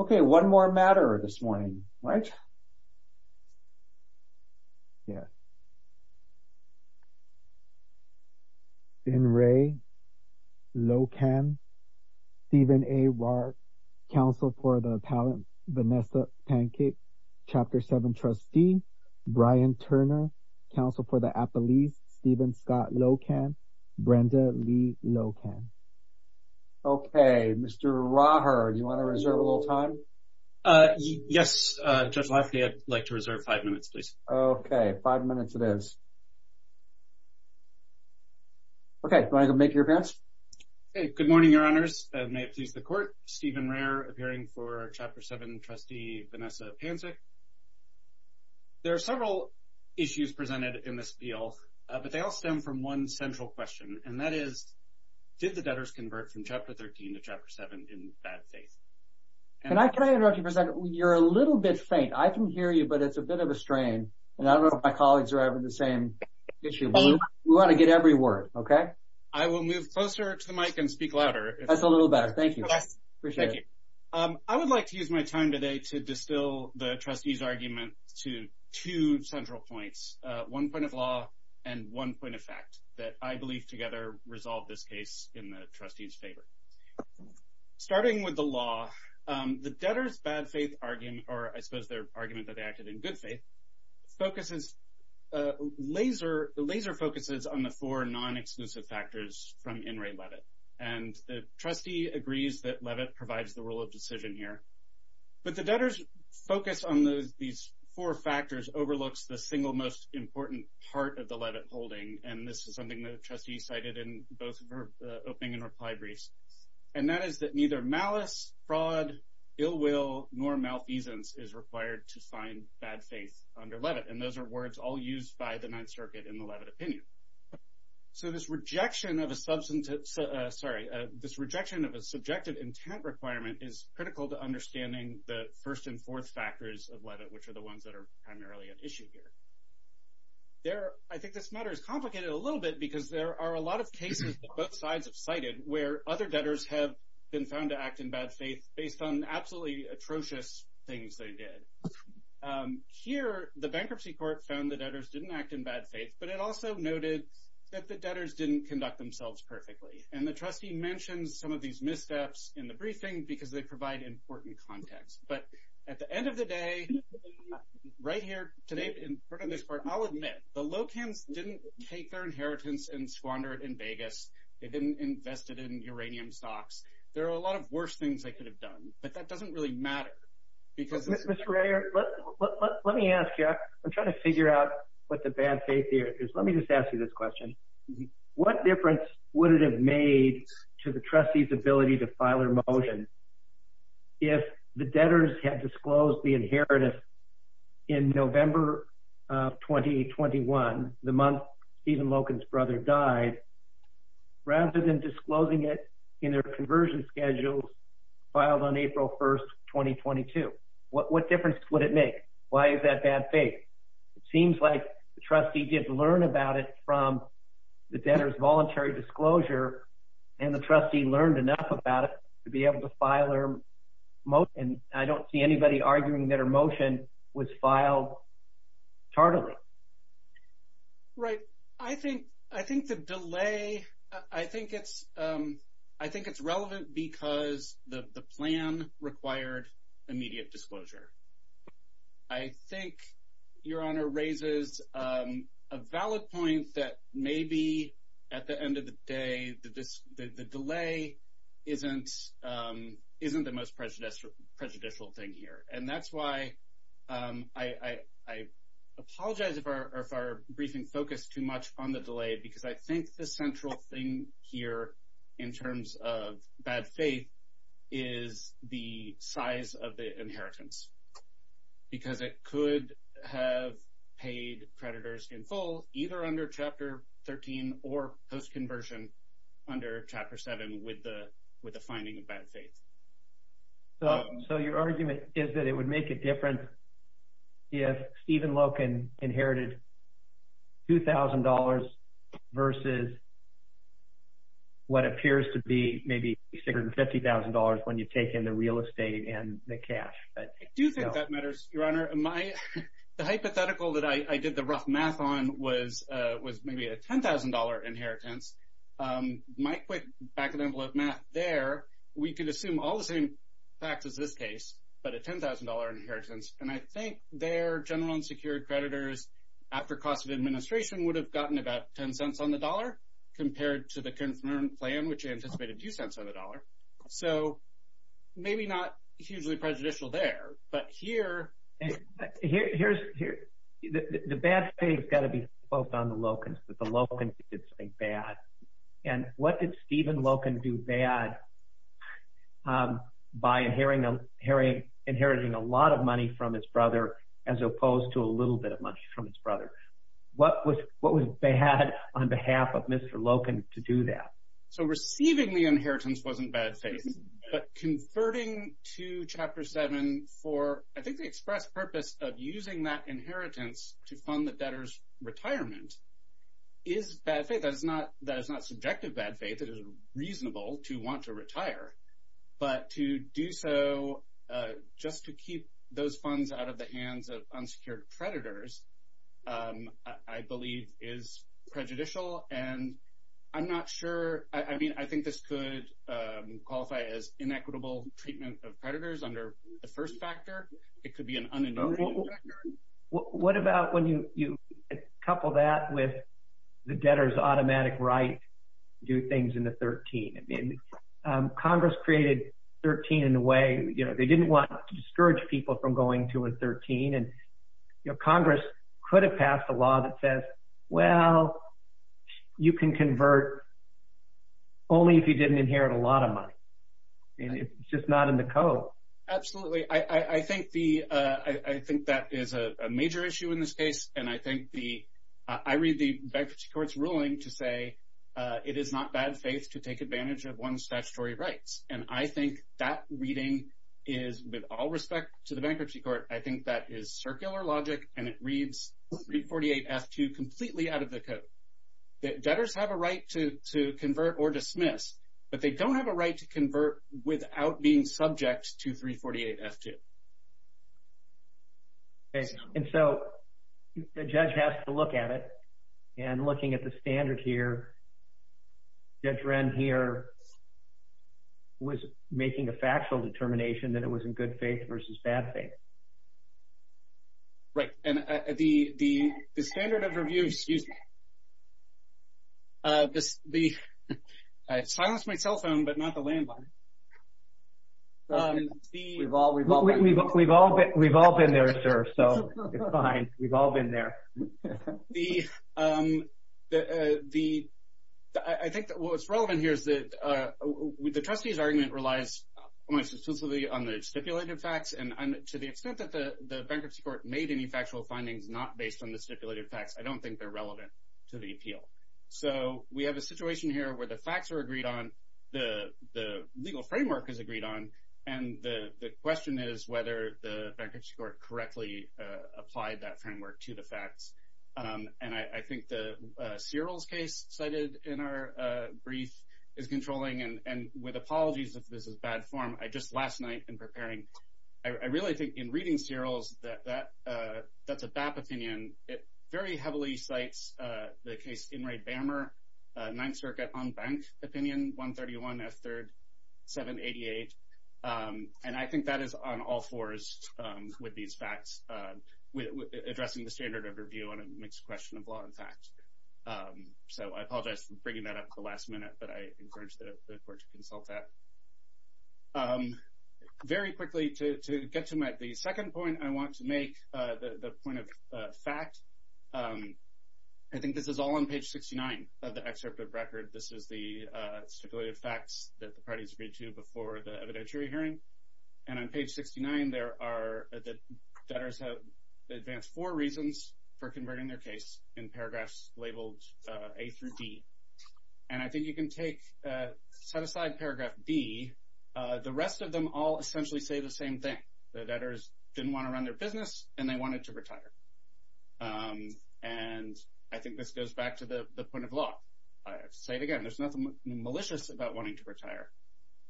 Okay, one more matter this morning, right? Yeah. Ben Ray, Lokan, Stephen A. Rahr, Counsel for the Appellant Vanessa Pancake, Chapter 7 Trustee, Brian Turner, Counsel for the Appellees, Stephen Scott Lokan, Brenda Lee Lokan. Okay, Mr. Rahr, do you want to reserve a little time? Yes, Judge Lafferty, I'd like to reserve five minutes, please. Okay, five minutes it is. Okay, do you want to make your appearance? Good morning, Your Honors. May it please the Court, Stephen Rahr, appearing for Chapter 7 Trustee Vanessa Pancake. There are several issues presented in this appeal, but they all stem from one central question, and that is, did the debtors convert from Chapter 13 to Chapter 7 in bad faith? Can I interrupt you for a second? You're a little bit faint. I can hear you, but it's a bit of a strain, and I don't know if my colleagues are having the same issue. We want to get every word, okay? I will move closer to the mic and speak louder. That's a little better. Thank you. I would like to use my time today to distill the trustee's argument to two central points, one point of law and one point of fact, that I believe together resolve this case in the trustee's favor. Starting with the law, the debtors' bad faith argument, or I suppose their argument that they acted in good faith, focuses, laser focuses on the four non-exclusive factors from In Re Levitt. And the trustee agrees that Levitt provides the rule of decision here, but the debtors' focus on these four factors overlooks the single most important part of the Levitt holding, and this is something the trustee cited in both of her opening and reply briefs. And that is that neither malice, fraud, ill will, nor malfeasance is required to find bad faith under Levitt, and those are words all used by the Ninth Circuit in the Levitt opinion. So this rejection of a substantive, sorry, this rejection of a subjective intent requirement is critical to understanding the first and fourth factors of Levitt, which are the ones that are primarily at issue here. I think this matter is complicated a little bit because there are a lot of cases that both sides have cited where other debtors have been found to act in bad faith based on absolutely atrocious things they did. Here, the bankruptcy court found the debtors didn't act in bad faith, but it also noted that the debtors didn't conduct themselves perfectly. And the trustee mentions some of these missteps in the briefing because they provide important context. But at the end of the day, right here today in front of this court, I'll admit the Locans didn't take their inheritance and squander it in Vegas. They didn't invest it in uranium stocks. There are a lot of worse things they could have done, but that doesn't really matter because… Mr. Ray, let me ask you. I'm trying to figure out what the bad faith here is. Let me just ask you this question. What difference would it have made to the trustee's ability to file a motion if the debtors had disclosed the inheritance in November of 2021, the month Stephen Locan's brother died, rather than disclosing it in their conversion schedules filed on April 1st, 2022? What difference would it make? Why is that bad faith? It seems like the trustee did learn about it from the debtors' voluntary disclosure, and the trustee learned enough about it to be able to file their motion. And I don't see anybody arguing that her motion was filed tardily. Right. I think the delay… I think it's relevant because the plan required immediate disclosure. I think Your Honor raises a valid point that maybe, at the end of the day, the delay isn't the most prejudicial thing here. And that's why I apologize if our briefing focused too much on the delay, because I think the central thing here, in terms of bad faith, is the size of the inheritance. Because it could have paid creditors in full, either under Chapter 13 or post-conversion, under Chapter 7 with the finding of bad faith. So your argument is that it would make a difference if Stephen Locan inherited $2,000 versus what appears to be maybe $350,000 when you take in the real estate and the cash. I do think that matters, Your Honor. The hypothetical that I did the rough math on was maybe a $10,000 inheritance. My quick back-of-the-envelope math there, we could assume all the same facts as this case, but a $10,000 inheritance. And I think their general and secured creditors, after cost of administration, would have gotten about $0.10 on the dollar compared to the current plan, which anticipated $0.02 on the dollar. So maybe not hugely prejudicial there, but here… The bad faith has got to be focused on the Locans, that the Locans did something bad. And what did Stephen Locan do bad by inheriting a lot of money from his brother as opposed to a little bit of money from his brother? What was bad on behalf of Mr. Locan to do that? So receiving the inheritance wasn't bad faith, but converting to Chapter 7 for, I think, the express purpose of using that inheritance to fund the debtor's retirement is bad faith. That is not subjective bad faith. It is reasonable to want to retire. But to do so just to keep those funds out of the hands of unsecured creditors, I believe, is prejudicial, and I'm not sure. I mean I think this could qualify as inequitable treatment of creditors under the first factor. It could be an unenumerated factor. What about when you couple that with the debtor's automatic right to do things in the 13? Congress created 13 in a way – they didn't want to discourage people from going to a 13, and Congress could have passed a law that says, well, you can convert only if you didn't inherit a lot of money. It's just not in the code. Well, absolutely. I think that is a major issue in this case, and I read the bankruptcy court's ruling to say it is not bad faith to take advantage of one's statutory rights. And I think that reading is, with all respect to the bankruptcy court, I think that is circular logic, and it reads 348F2 completely out of the code. Debtors have a right to convert or dismiss, but they don't have a right to convert without being subject to 348F2. And so the judge has to look at it, and looking at the standard here, Judge Wren here was making a factual determination that it was in good faith versus bad faith. Right, and the standard of review – excuse me. I silenced my cell phone, but not the landline. We've all been there, sir, so it's fine. We've all been there. The – I think what's relevant here is that the trustee's argument relies almost exclusively on the stipulated facts, and to the extent that the bankruptcy court made any factual findings not based on the stipulated facts, I don't think they're relevant to the appeal. So we have a situation here where the facts are agreed on, the legal framework is agreed on, and the question is whether the bankruptcy court correctly applied that framework to the facts. And I think the Searles case cited in our brief is controlling, and with apologies if this is bad form, I just last night in preparing – I really think in reading Searles that that's a BAP opinion. It very heavily cites the case Enright-Bammer, Ninth Circuit on Bank Opinion, 131 F. 3rd, 788. And I think that is on all fours with these facts, addressing the standard of review on a mixed question of law and fact. So I apologize for bringing that up at the last minute, but I encourage the court to consult that. Very quickly, to get to the second point, I want to make the point of fact. I think this is all on page 69 of the excerpt of record. This is the stipulated facts that the parties agreed to before the evidentiary hearing. And on page 69, there are – the debtors have advanced four reasons for converting their case in paragraphs labeled A through D. And I think you can take – set aside paragraph B. The rest of them all essentially say the same thing. The debtors didn't want to run their business, and they wanted to retire. And I think this goes back to the point of law. Say it again. There's nothing malicious about wanting to retire.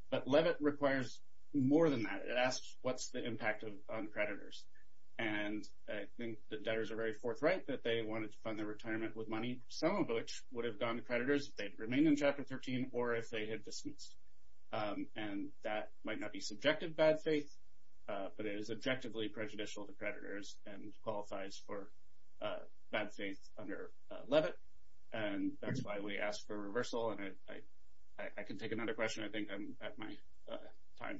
But Levitt requires more than that. It asks what's the impact on creditors. And I think the debtors are very forthright that they wanted to fund their retirement with money, some of which would have gone to creditors if they had remained in Chapter 13 or if they had dismissed. And that might not be subjective bad faith, but it is objectively prejudicial to creditors and qualifies for bad faith under Levitt. And that's why we ask for reversal. And I can take another question. I think I'm at my time.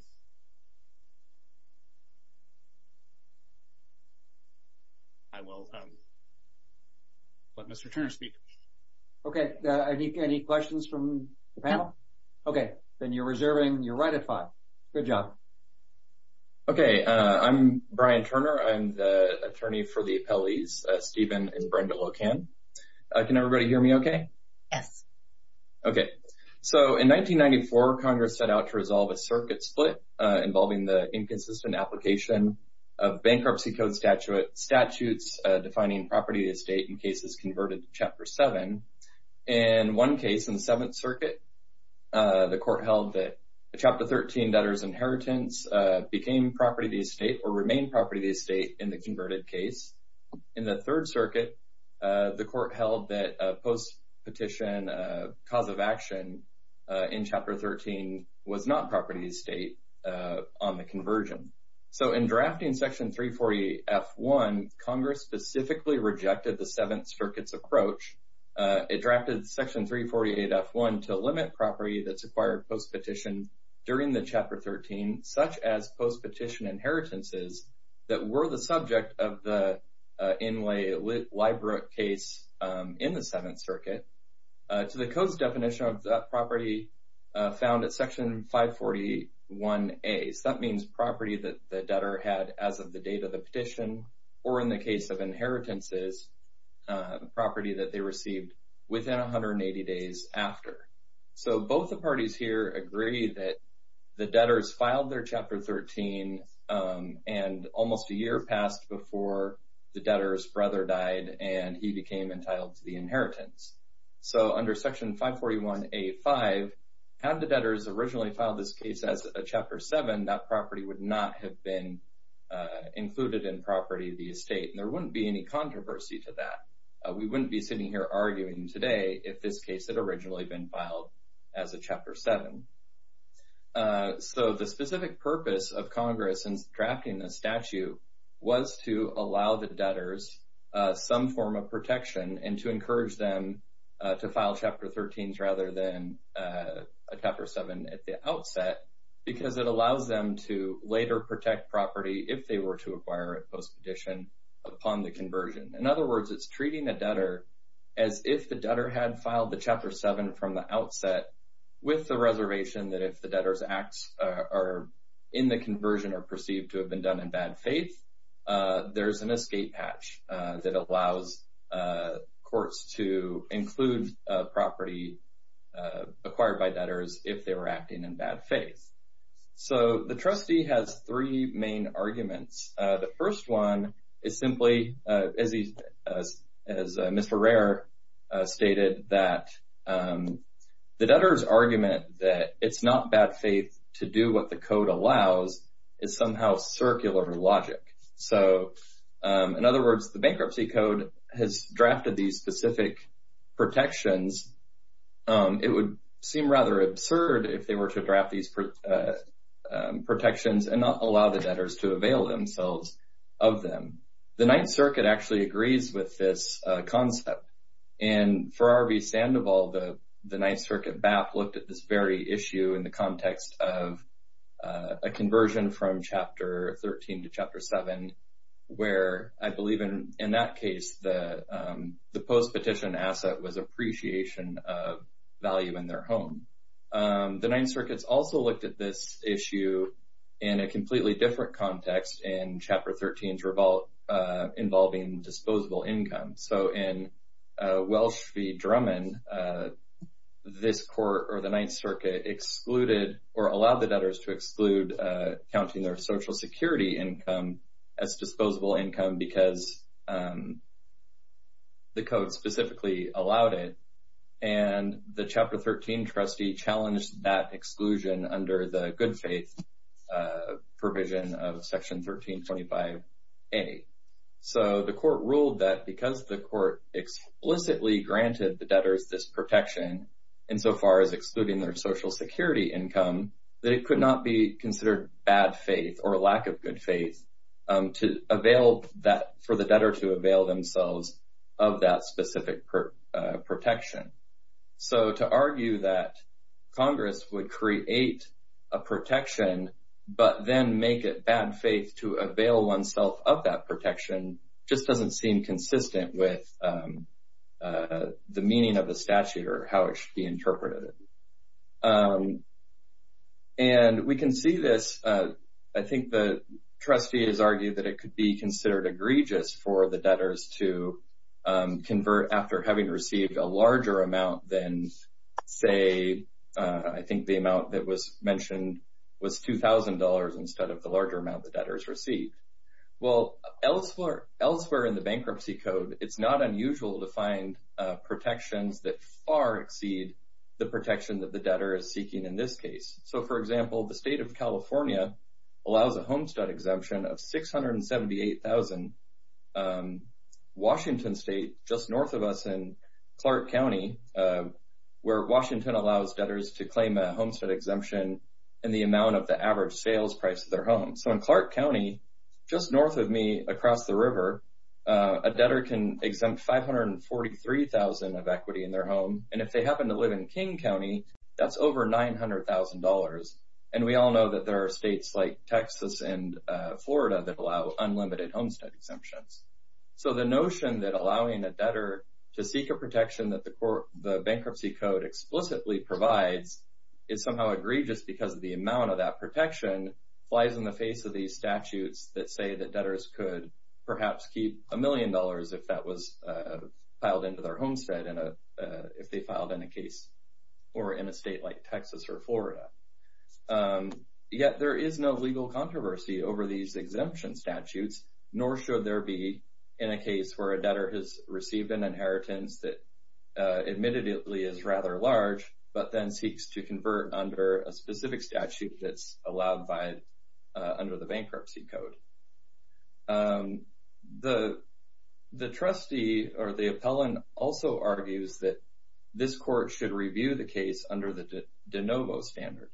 I will let Mr. Turner speak. Okay. Any questions from the panel? Okay. Then you're reserving. You're right at five. Good job. Okay. I'm Brian Turner. I'm the attorney for the appellees Stephen and Brenda Locan. Can everybody hear me okay? Yes. Okay. So, in 1994, Congress set out to resolve a circuit split involving the inconsistent application of bankruptcy code statutes defining property of the estate in cases converted to Chapter 7. In one case, in the Seventh Circuit, the court held that Chapter 13 debtors' inheritance became property of the estate or remained property of the estate in the converted case. In the Third Circuit, the court held that post-petition cause of action in Chapter 13 was not property of the estate on the conversion. So, in drafting Section 348F1, Congress specifically rejected the Seventh Circuit's approach. It drafted Section 348F1 to limit property that's acquired post-petition during the Chapter 13, such as post-petition inheritances, that were the subject of the Inlay-Lybrook case in the Seventh Circuit to the code's definition of that property found at Section 541A. So, that means property that the debtor had as of the date of the petition or, in the case of inheritances, property that they received within 180 days after. So, both the parties here agree that the debtors filed their Chapter 13 and almost a year passed before the debtor's brother died and he became entitled to the inheritance. So, under Section 541A.5, had the debtors originally filed this case as a Chapter 7, that property would not have been included in property of the estate, and there wouldn't be any controversy to that. We wouldn't be sitting here arguing today if this case had originally been filed as a Chapter 7. So, the specific purpose of Congress in drafting this statute was to allow the debtors some form of protection and to encourage them to file Chapter 13s rather than a Chapter 7 at the outset because it allows them to later protect property if they were to acquire it post-petition upon the conversion. In other words, it's treating the debtor as if the debtor had filed the Chapter 7 from the outset with the reservation that if the debtors are in the conversion or perceived to have been done in bad faith, there's an escape patch that allows courts to include property acquired by debtors if they were acting in bad faith. So, the trustee has three main arguments. The first one is simply, as Mr. Rare stated, that the debtors' argument that it's not bad faith to do what the Code allows is somehow circular logic. So, in other words, the Bankruptcy Code has drafted these specific protections. It would seem rather absurd if they were to draft these protections and not allow the debtors to avail them. The Ninth Circuit actually agrees with this concept. And for R.V. Sandoval, the Ninth Circuit BAP looked at this very issue in the context of a conversion from Chapter 13 to Chapter 7 where I believe in that case the post-petition asset was appreciation of value in their home. The Ninth Circuit also looked at this issue in a completely different context in Chapter 13's revolt involving disposable income. So, in Welsh v. Drummond, this court or the Ninth Circuit excluded or allowed the debtors to exclude counting their Social Security income as disposable income because the Code specifically allowed it. And the Chapter 13 trustee challenged that exclusion under the good faith provision of Section 1325A. So, the court ruled that because the court explicitly granted the debtors this protection insofar as excluding their Social Security income, that it could not be considered bad faith or a lack of good faith for the debtor to avail themselves of that specific protection. So, to argue that Congress would create a protection but then make it bad faith to avail oneself of that protection just doesn't seem consistent with the meaning of the statute or how it should be interpreted. And we can see this, I think the trustee has argued that it could be considered egregious for the debtors to convert after having received a larger amount than, say, I think the amount that was mentioned was $2,000 instead of the larger amount the debtors received. Well, elsewhere in the Bankruptcy Code, it's not unusual to find protections that far exceed the protection that the debtor is seeking in this case. So, for example, the State of California allows a Homestead Exemption of $678,000. Washington State, just north of us in Clark County, where Washington allows debtors to claim a Homestead Exemption in the amount of the average sales price of their home. So, in Clark County, just north of me across the river, a debtor can exempt $543,000 of equity in their home. And if they happen to live in King County, that's over $900,000. And we all know that there are states like Texas and Florida that allow unlimited Homestead Exemptions. So, the notion that allowing a debtor to seek a protection that the Bankruptcy Code explicitly provides is somehow egregious because the amount of that protection flies in the face of these statutes that say that debtors could perhaps keep a million dollars if that was filed into their homestead if they filed in a case or in a state like Texas or Florida. Yet, there is no legal controversy over these exemption statutes, nor should there be in a case where a debtor has received an inheritance that admittedly is rather large to convert under a specific statute that's allowed under the Bankruptcy Code. The trustee or the appellant also argues that this court should review the case under the de novo standard.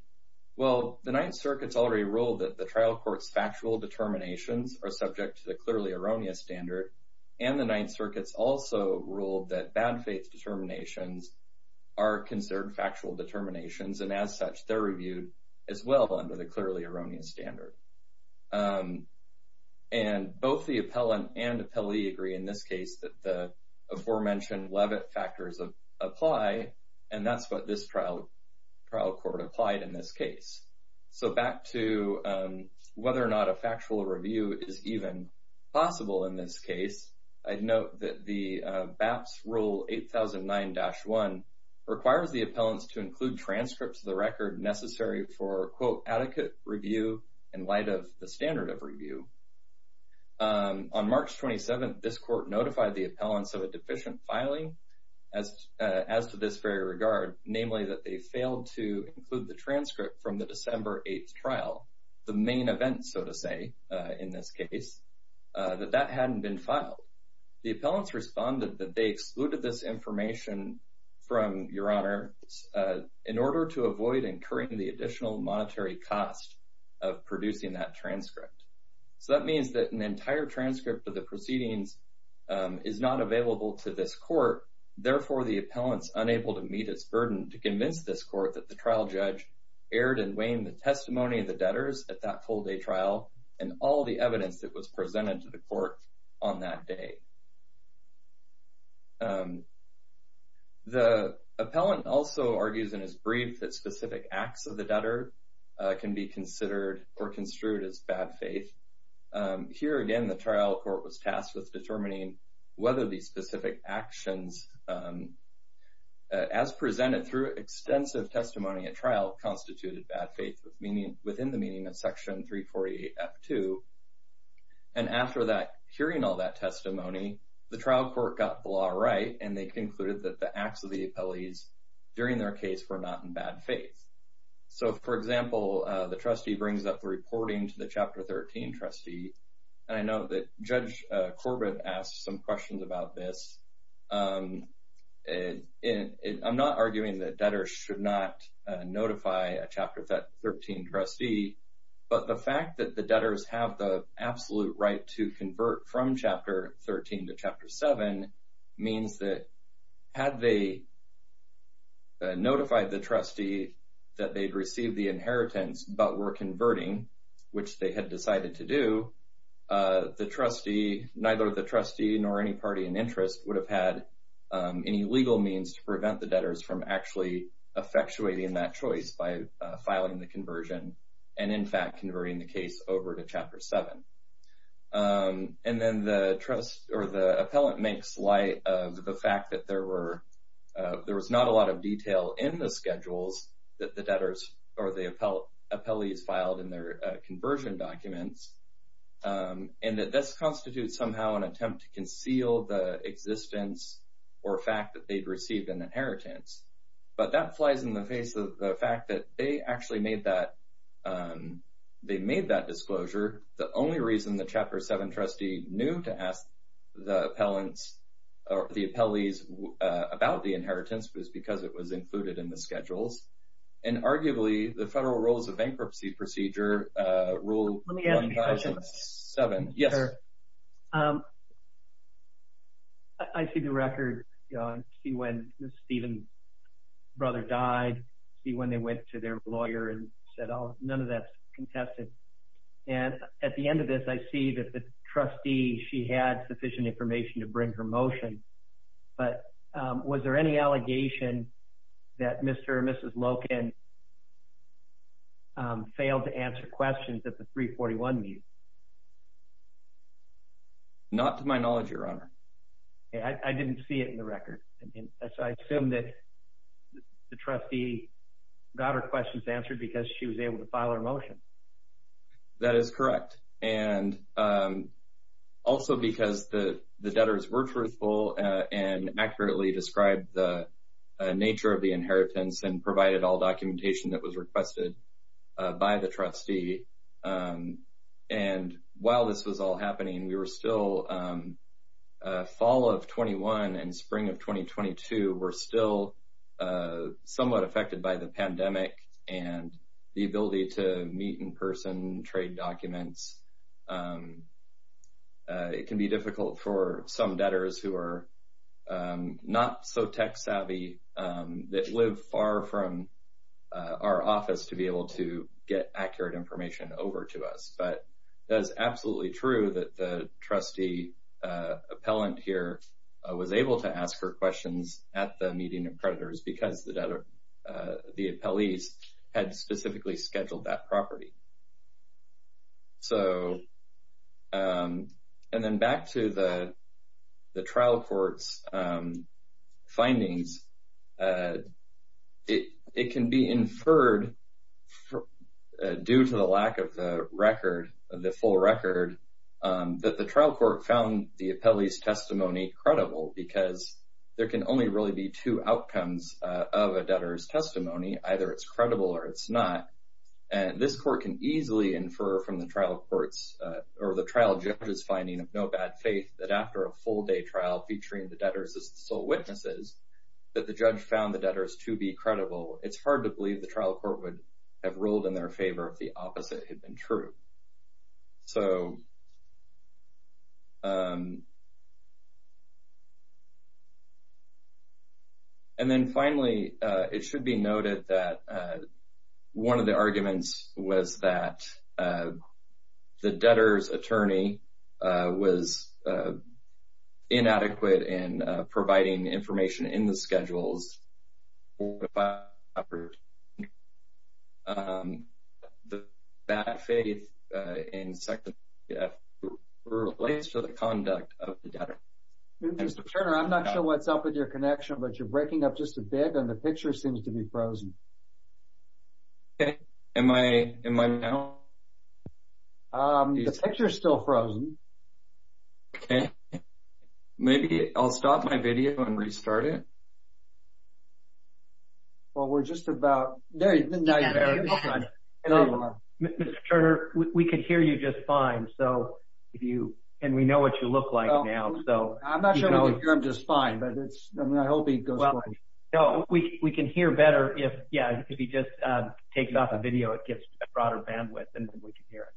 Well, the Ninth Circuit's already ruled that the trial court's factual determinations are subject to the clearly erroneous standard, and the Ninth Circuit's also ruled that bad faith determinations are considered factual determinations, and as such, they're reviewed as well under the clearly erroneous standard. And both the appellant and appellee agree in this case that the aforementioned Levitt factors apply, and that's what this trial court applied in this case. So back to whether or not a factual review is even possible in this case, I'd note that the BAPS Rule 8009-1 requires the appellants to include transcripts of the record necessary for, quote, adequate review in light of the standard of review. On March 27th, this court notified the appellants of a deficient filing as to this very regard, namely that they failed to include the transcript from the December 8th trial, the main event, so to say, in this case, that that hadn't been filed. The appellants responded that they excluded this information from Your Honor in order to avoid incurring the additional monetary cost of producing that transcript. So that means that an entire transcript of the proceedings is not available to this court, therefore the appellants unable to meet its burden to convince this court that the trial judge erred in weighing the testimony of the debtors at that full day trial and all the evidence that was presented to the court on that day. The appellant also argues in his brief that specific acts of the debtor can be considered or construed as bad faith. Here again, the trial court was tasked with determining whether these specific actions as presented through extensive testimony at trial constituted bad faith within the meaning of Section 348F2. And after hearing all that testimony, the trial court got the law right and they concluded that the acts of the appellees during their case were not in bad faith. So for example, the trustee brings up the reporting to the Chapter 13 trustee and I know that Judge Corbett asked some questions about this. I'm not arguing that debtors should not notify a Chapter 13 trustee, but the fact that the debtors have the absolute right to convert from Chapter 13 to Chapter 7 means that had they notified the trustee that they'd received the inheritance but were converting, which they had decided to do, neither the trustee nor any party in interest would have had any legal means to prevent the debtors from actually effectuating that choice by filing the conversion and in fact converting the case over to Chapter 7. And then the trust or the appellant makes light of the fact that there were there was not a lot of detail in the schedules that the debtors or the appellees filed in their conversion documents and that this constitutes somehow an attempt to conceal the existence or fact that they'd received an inheritance. But that flies in the face of the fact that they actually made that they made that disclosure. The only reason the Chapter 7 trustee knew to ask the appellants or the appellees about the inheritance was because it was included in the schedules and arguably the Federal Rules of Bankruptcy Procedure Rule 1007. Yes, sir. I see the record. I see when Stephen's brother died. I see when they went to their lawyer and said, oh, none of that's contested. And at the end of this, I see that the trustee, she had sufficient information to bring her motion. But was there any allegation that Mr. and Mrs. Loken failed to answer questions at the 341 meeting? Not to my knowledge, Your Honor. I didn't see it in the record. I assume that the trustee got her questions answered because she was able to file her motion. That is correct. And also because the debtors were truthful and accurately described the nature of the inheritance and provided all documentation that was requested by the trustee. And while this was all happening, we were still fall of 21 and spring of 2022. We're still somewhat affected by the pandemic and the ability to meet in person, trade documents. It can be difficult for some debtors who are not so tech savvy that live far from our office to be able to get accurate information over to us. But that's absolutely true that the trustee appellant here was able to ask her questions at the meeting of creditors because the appellees had specifically scheduled that property. And then back to the trial court's findings. It can be inferred due to the lack of the record, the full record, that the trial court found the appellee's testimony credible because there can only really be two outcomes of a debtor's testimony. Either it's credible or it's not. And this court can easily infer from the trial court's or the trial judge's finding of no bad faith that after a full day trial featuring the debtors as the sole witnesses, that the judge found the debtors to be credible. It's hard to believe the trial court would have rolled in their favor if the opposite had been true. And then finally, it should be noted that one of the arguments was that the debtor's attorney was inadequate in providing information in the schedules for the property. The bad faith in section 3F relates to the conduct of the debtor. Mr. Turner, I'm not sure what's up with your connection, but you're breaking up just a bit and the picture seems to be frozen. Okay, am I now? The picture's still frozen. Okay. Maybe I'll stop my video and restart it. Well, we're just about... Mr. Turner, we can hear you just fine, and we know what you look like now. I'm not sure I can hear him just fine, but I hope he goes quiet. No, we can hear better if he just takes off the video. It gives broader bandwidth and we can hear it.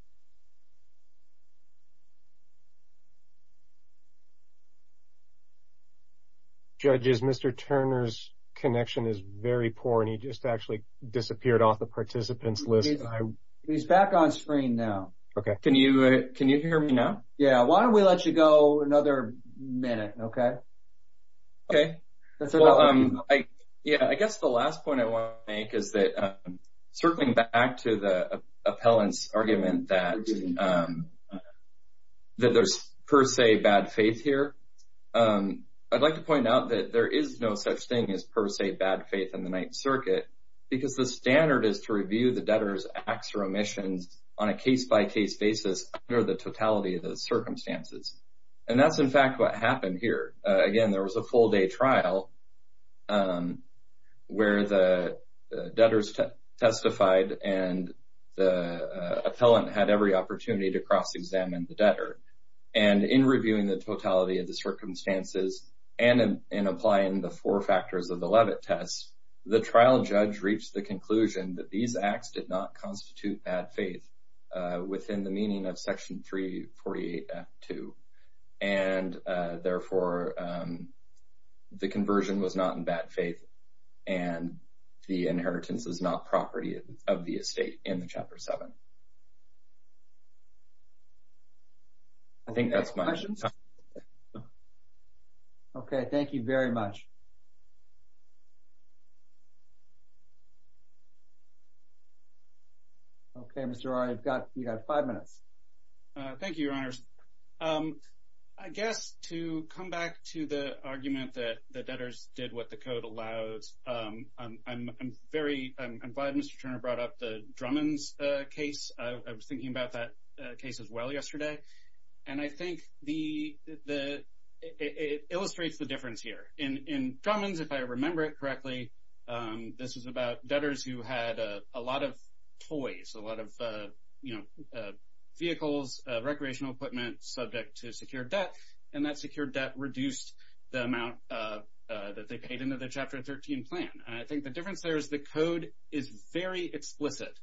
Judges, Mr. Turner's connection is very poor and he just actually disappeared off the participants list. He's back on screen now. Okay. Can you hear me now? Yeah, why don't we let you go another minute, okay? Okay. Yeah, I guess the last point I want to make is that circling back to the appellant's argument that there's per se bad faith here. I'd like to point out that there is no such thing as per se bad faith in the Ninth Circuit because the standard is to review the debtor's acts or omissions on a case-by-case basis under the totality of the circumstances. And that's, in fact, what happened here. Again, there was a full-day trial where the debtors testified and the appellant had every opportunity to cross-examine the debtor. And in reviewing the totality of the circumstances and in applying the four factors of the Levitt test, the trial judge reached the conclusion that these acts did not constitute bad faith within the meaning of Section 348.2. And, therefore, the conversion was not in bad faith and the inheritance is not property of the estate in Chapter 7. I think that's my answer. Okay, thank you very much. Okay, Mr. Rory, you've got five minutes. Thank you, Your Honors. I guess to come back to the argument that the debtors did what the Code allows, I'm very glad Mr. Turner brought up the Drummond's case. I was thinking about that case as well yesterday. And I think it illustrates the difference here. In Drummond's, if I remember it correctly, this was about debtors who had a lot of toys, a lot of vehicles, recreational equipment that were subject to secured debt. And that secured debt reduced the amount that they paid into the Chapter 13 plan. And I think the difference there is the Code is very explicit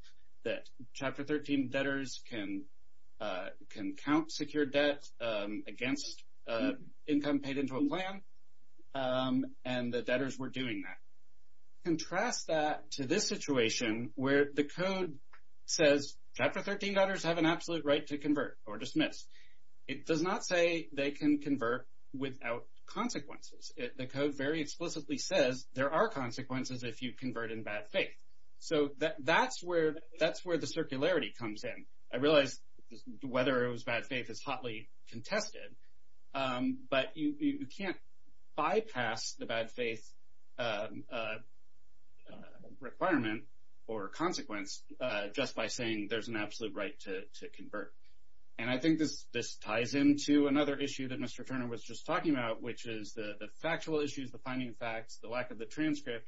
that Chapter 13 debtors can count secured debt against income paid into a plan. And the debtors were doing that. Contrast that to this situation where the Code says Chapter 13 debtors have an absolute right to convert or dismiss. It does not say they can convert without consequences. The Code very explicitly says there are consequences if you convert in bad faith. So that's where the circularity comes in. I realize whether it was bad faith is hotly contested. But you can't bypass the bad faith requirement or consequence just by saying there's an absolute right to convert. And I think this ties into another issue that Mr. Turner was just talking about, which is the factual issues, the finding facts, the lack of the transcript.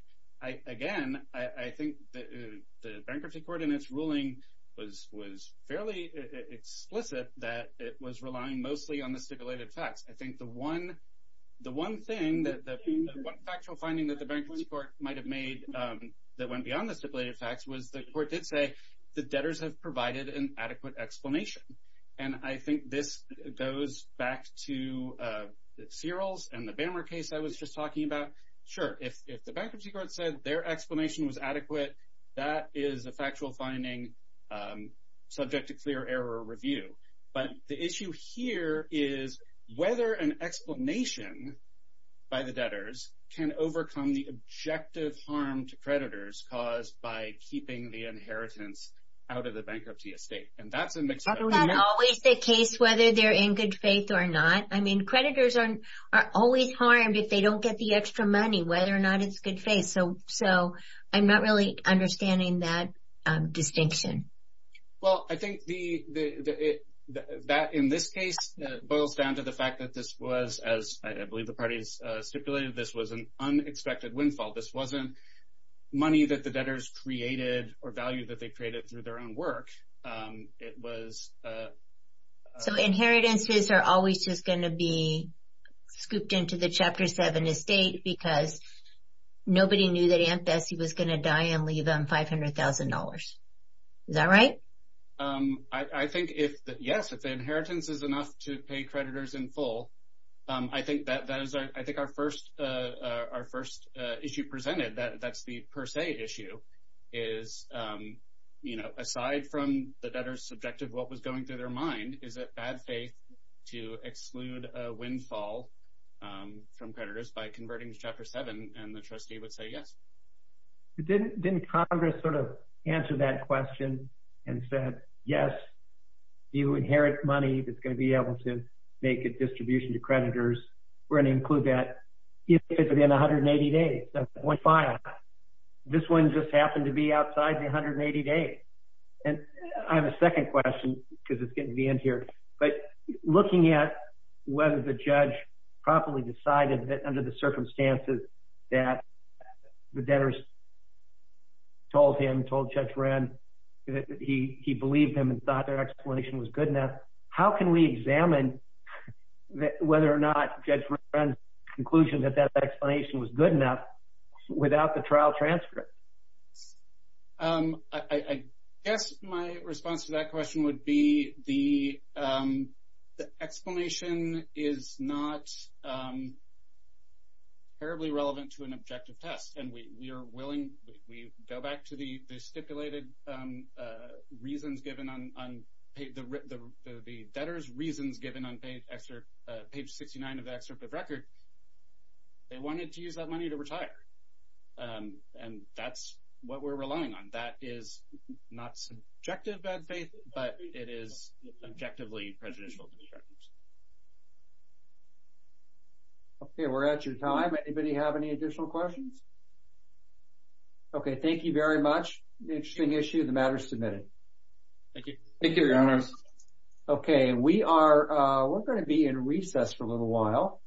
Again, I think the Bankruptcy Court in its ruling was fairly explicit that it was relying mostly on the stipulated facts. I think the one thing, the factual finding that the Bankruptcy Court might have made that went beyond the stipulated facts was the Court did say the debtors have provided an adequate explanation. And I think this goes back to the Searles and the Bammer case I was just talking about. Sure, if the Bankruptcy Court said their explanation was adequate, that is a factual finding subject to clear error review. But the issue here is whether an explanation by the debtors can overcome the objective harm to creditors caused by keeping the inheritance out of the bankruptcy estate. That's always the case, whether they're in good faith or not. Creditors are always harmed if they don't get the extra money, whether or not it's good faith. So I'm not really understanding that distinction. Well, I think that in this case boils down to the fact that this was, as I believe the parties stipulated, this was an unexpected windfall. This wasn't money that the debtors created or value that they created through their own work. It was... So inheritances are always just going to be scooped into the Chapter 7 estate because nobody knew that Aunt Bessie was going to die and leave them $500,000. Is that right? I think, yes, if the inheritance is enough to pay creditors in full, I think our first issue presented, that's the per se issue, is aside from the debtors subjective what was going through their mind, is it bad faith to exclude a windfall from creditors by converting to Chapter 7? And the trustee would say yes. Didn't Congress sort of answer that question and said, yes, you inherit money that's going to be able to make a distribution to creditors. We're going to include that if it's within 180 days of the windfall. This one just happened to be outside the 180 days. And I have a second question because it's getting to the end here. But looking at whether the judge properly decided that under the circumstances that the debtors told him, told Judge Wren, that he believed him and thought their explanation was good enough, how can we examine whether or not Judge Wren's conclusion that that explanation was good enough without the trial transcript? I guess my response to that question would be the explanation is not terribly relevant to an objective test. And we are willing, we go back to the stipulated reasons given on, the debtors reasons given on page 69 of the excerpt of record. They wanted to use that money to retire. And that's what we're relying on. That is not subjective bad faith, but it is objectively prejudicial. Okay, we're at your time. Anybody have any additional questions? Okay, thank you very much. Interesting issue, the matter is submitted. Thank you. Okay, we are going to be in recess for a little while.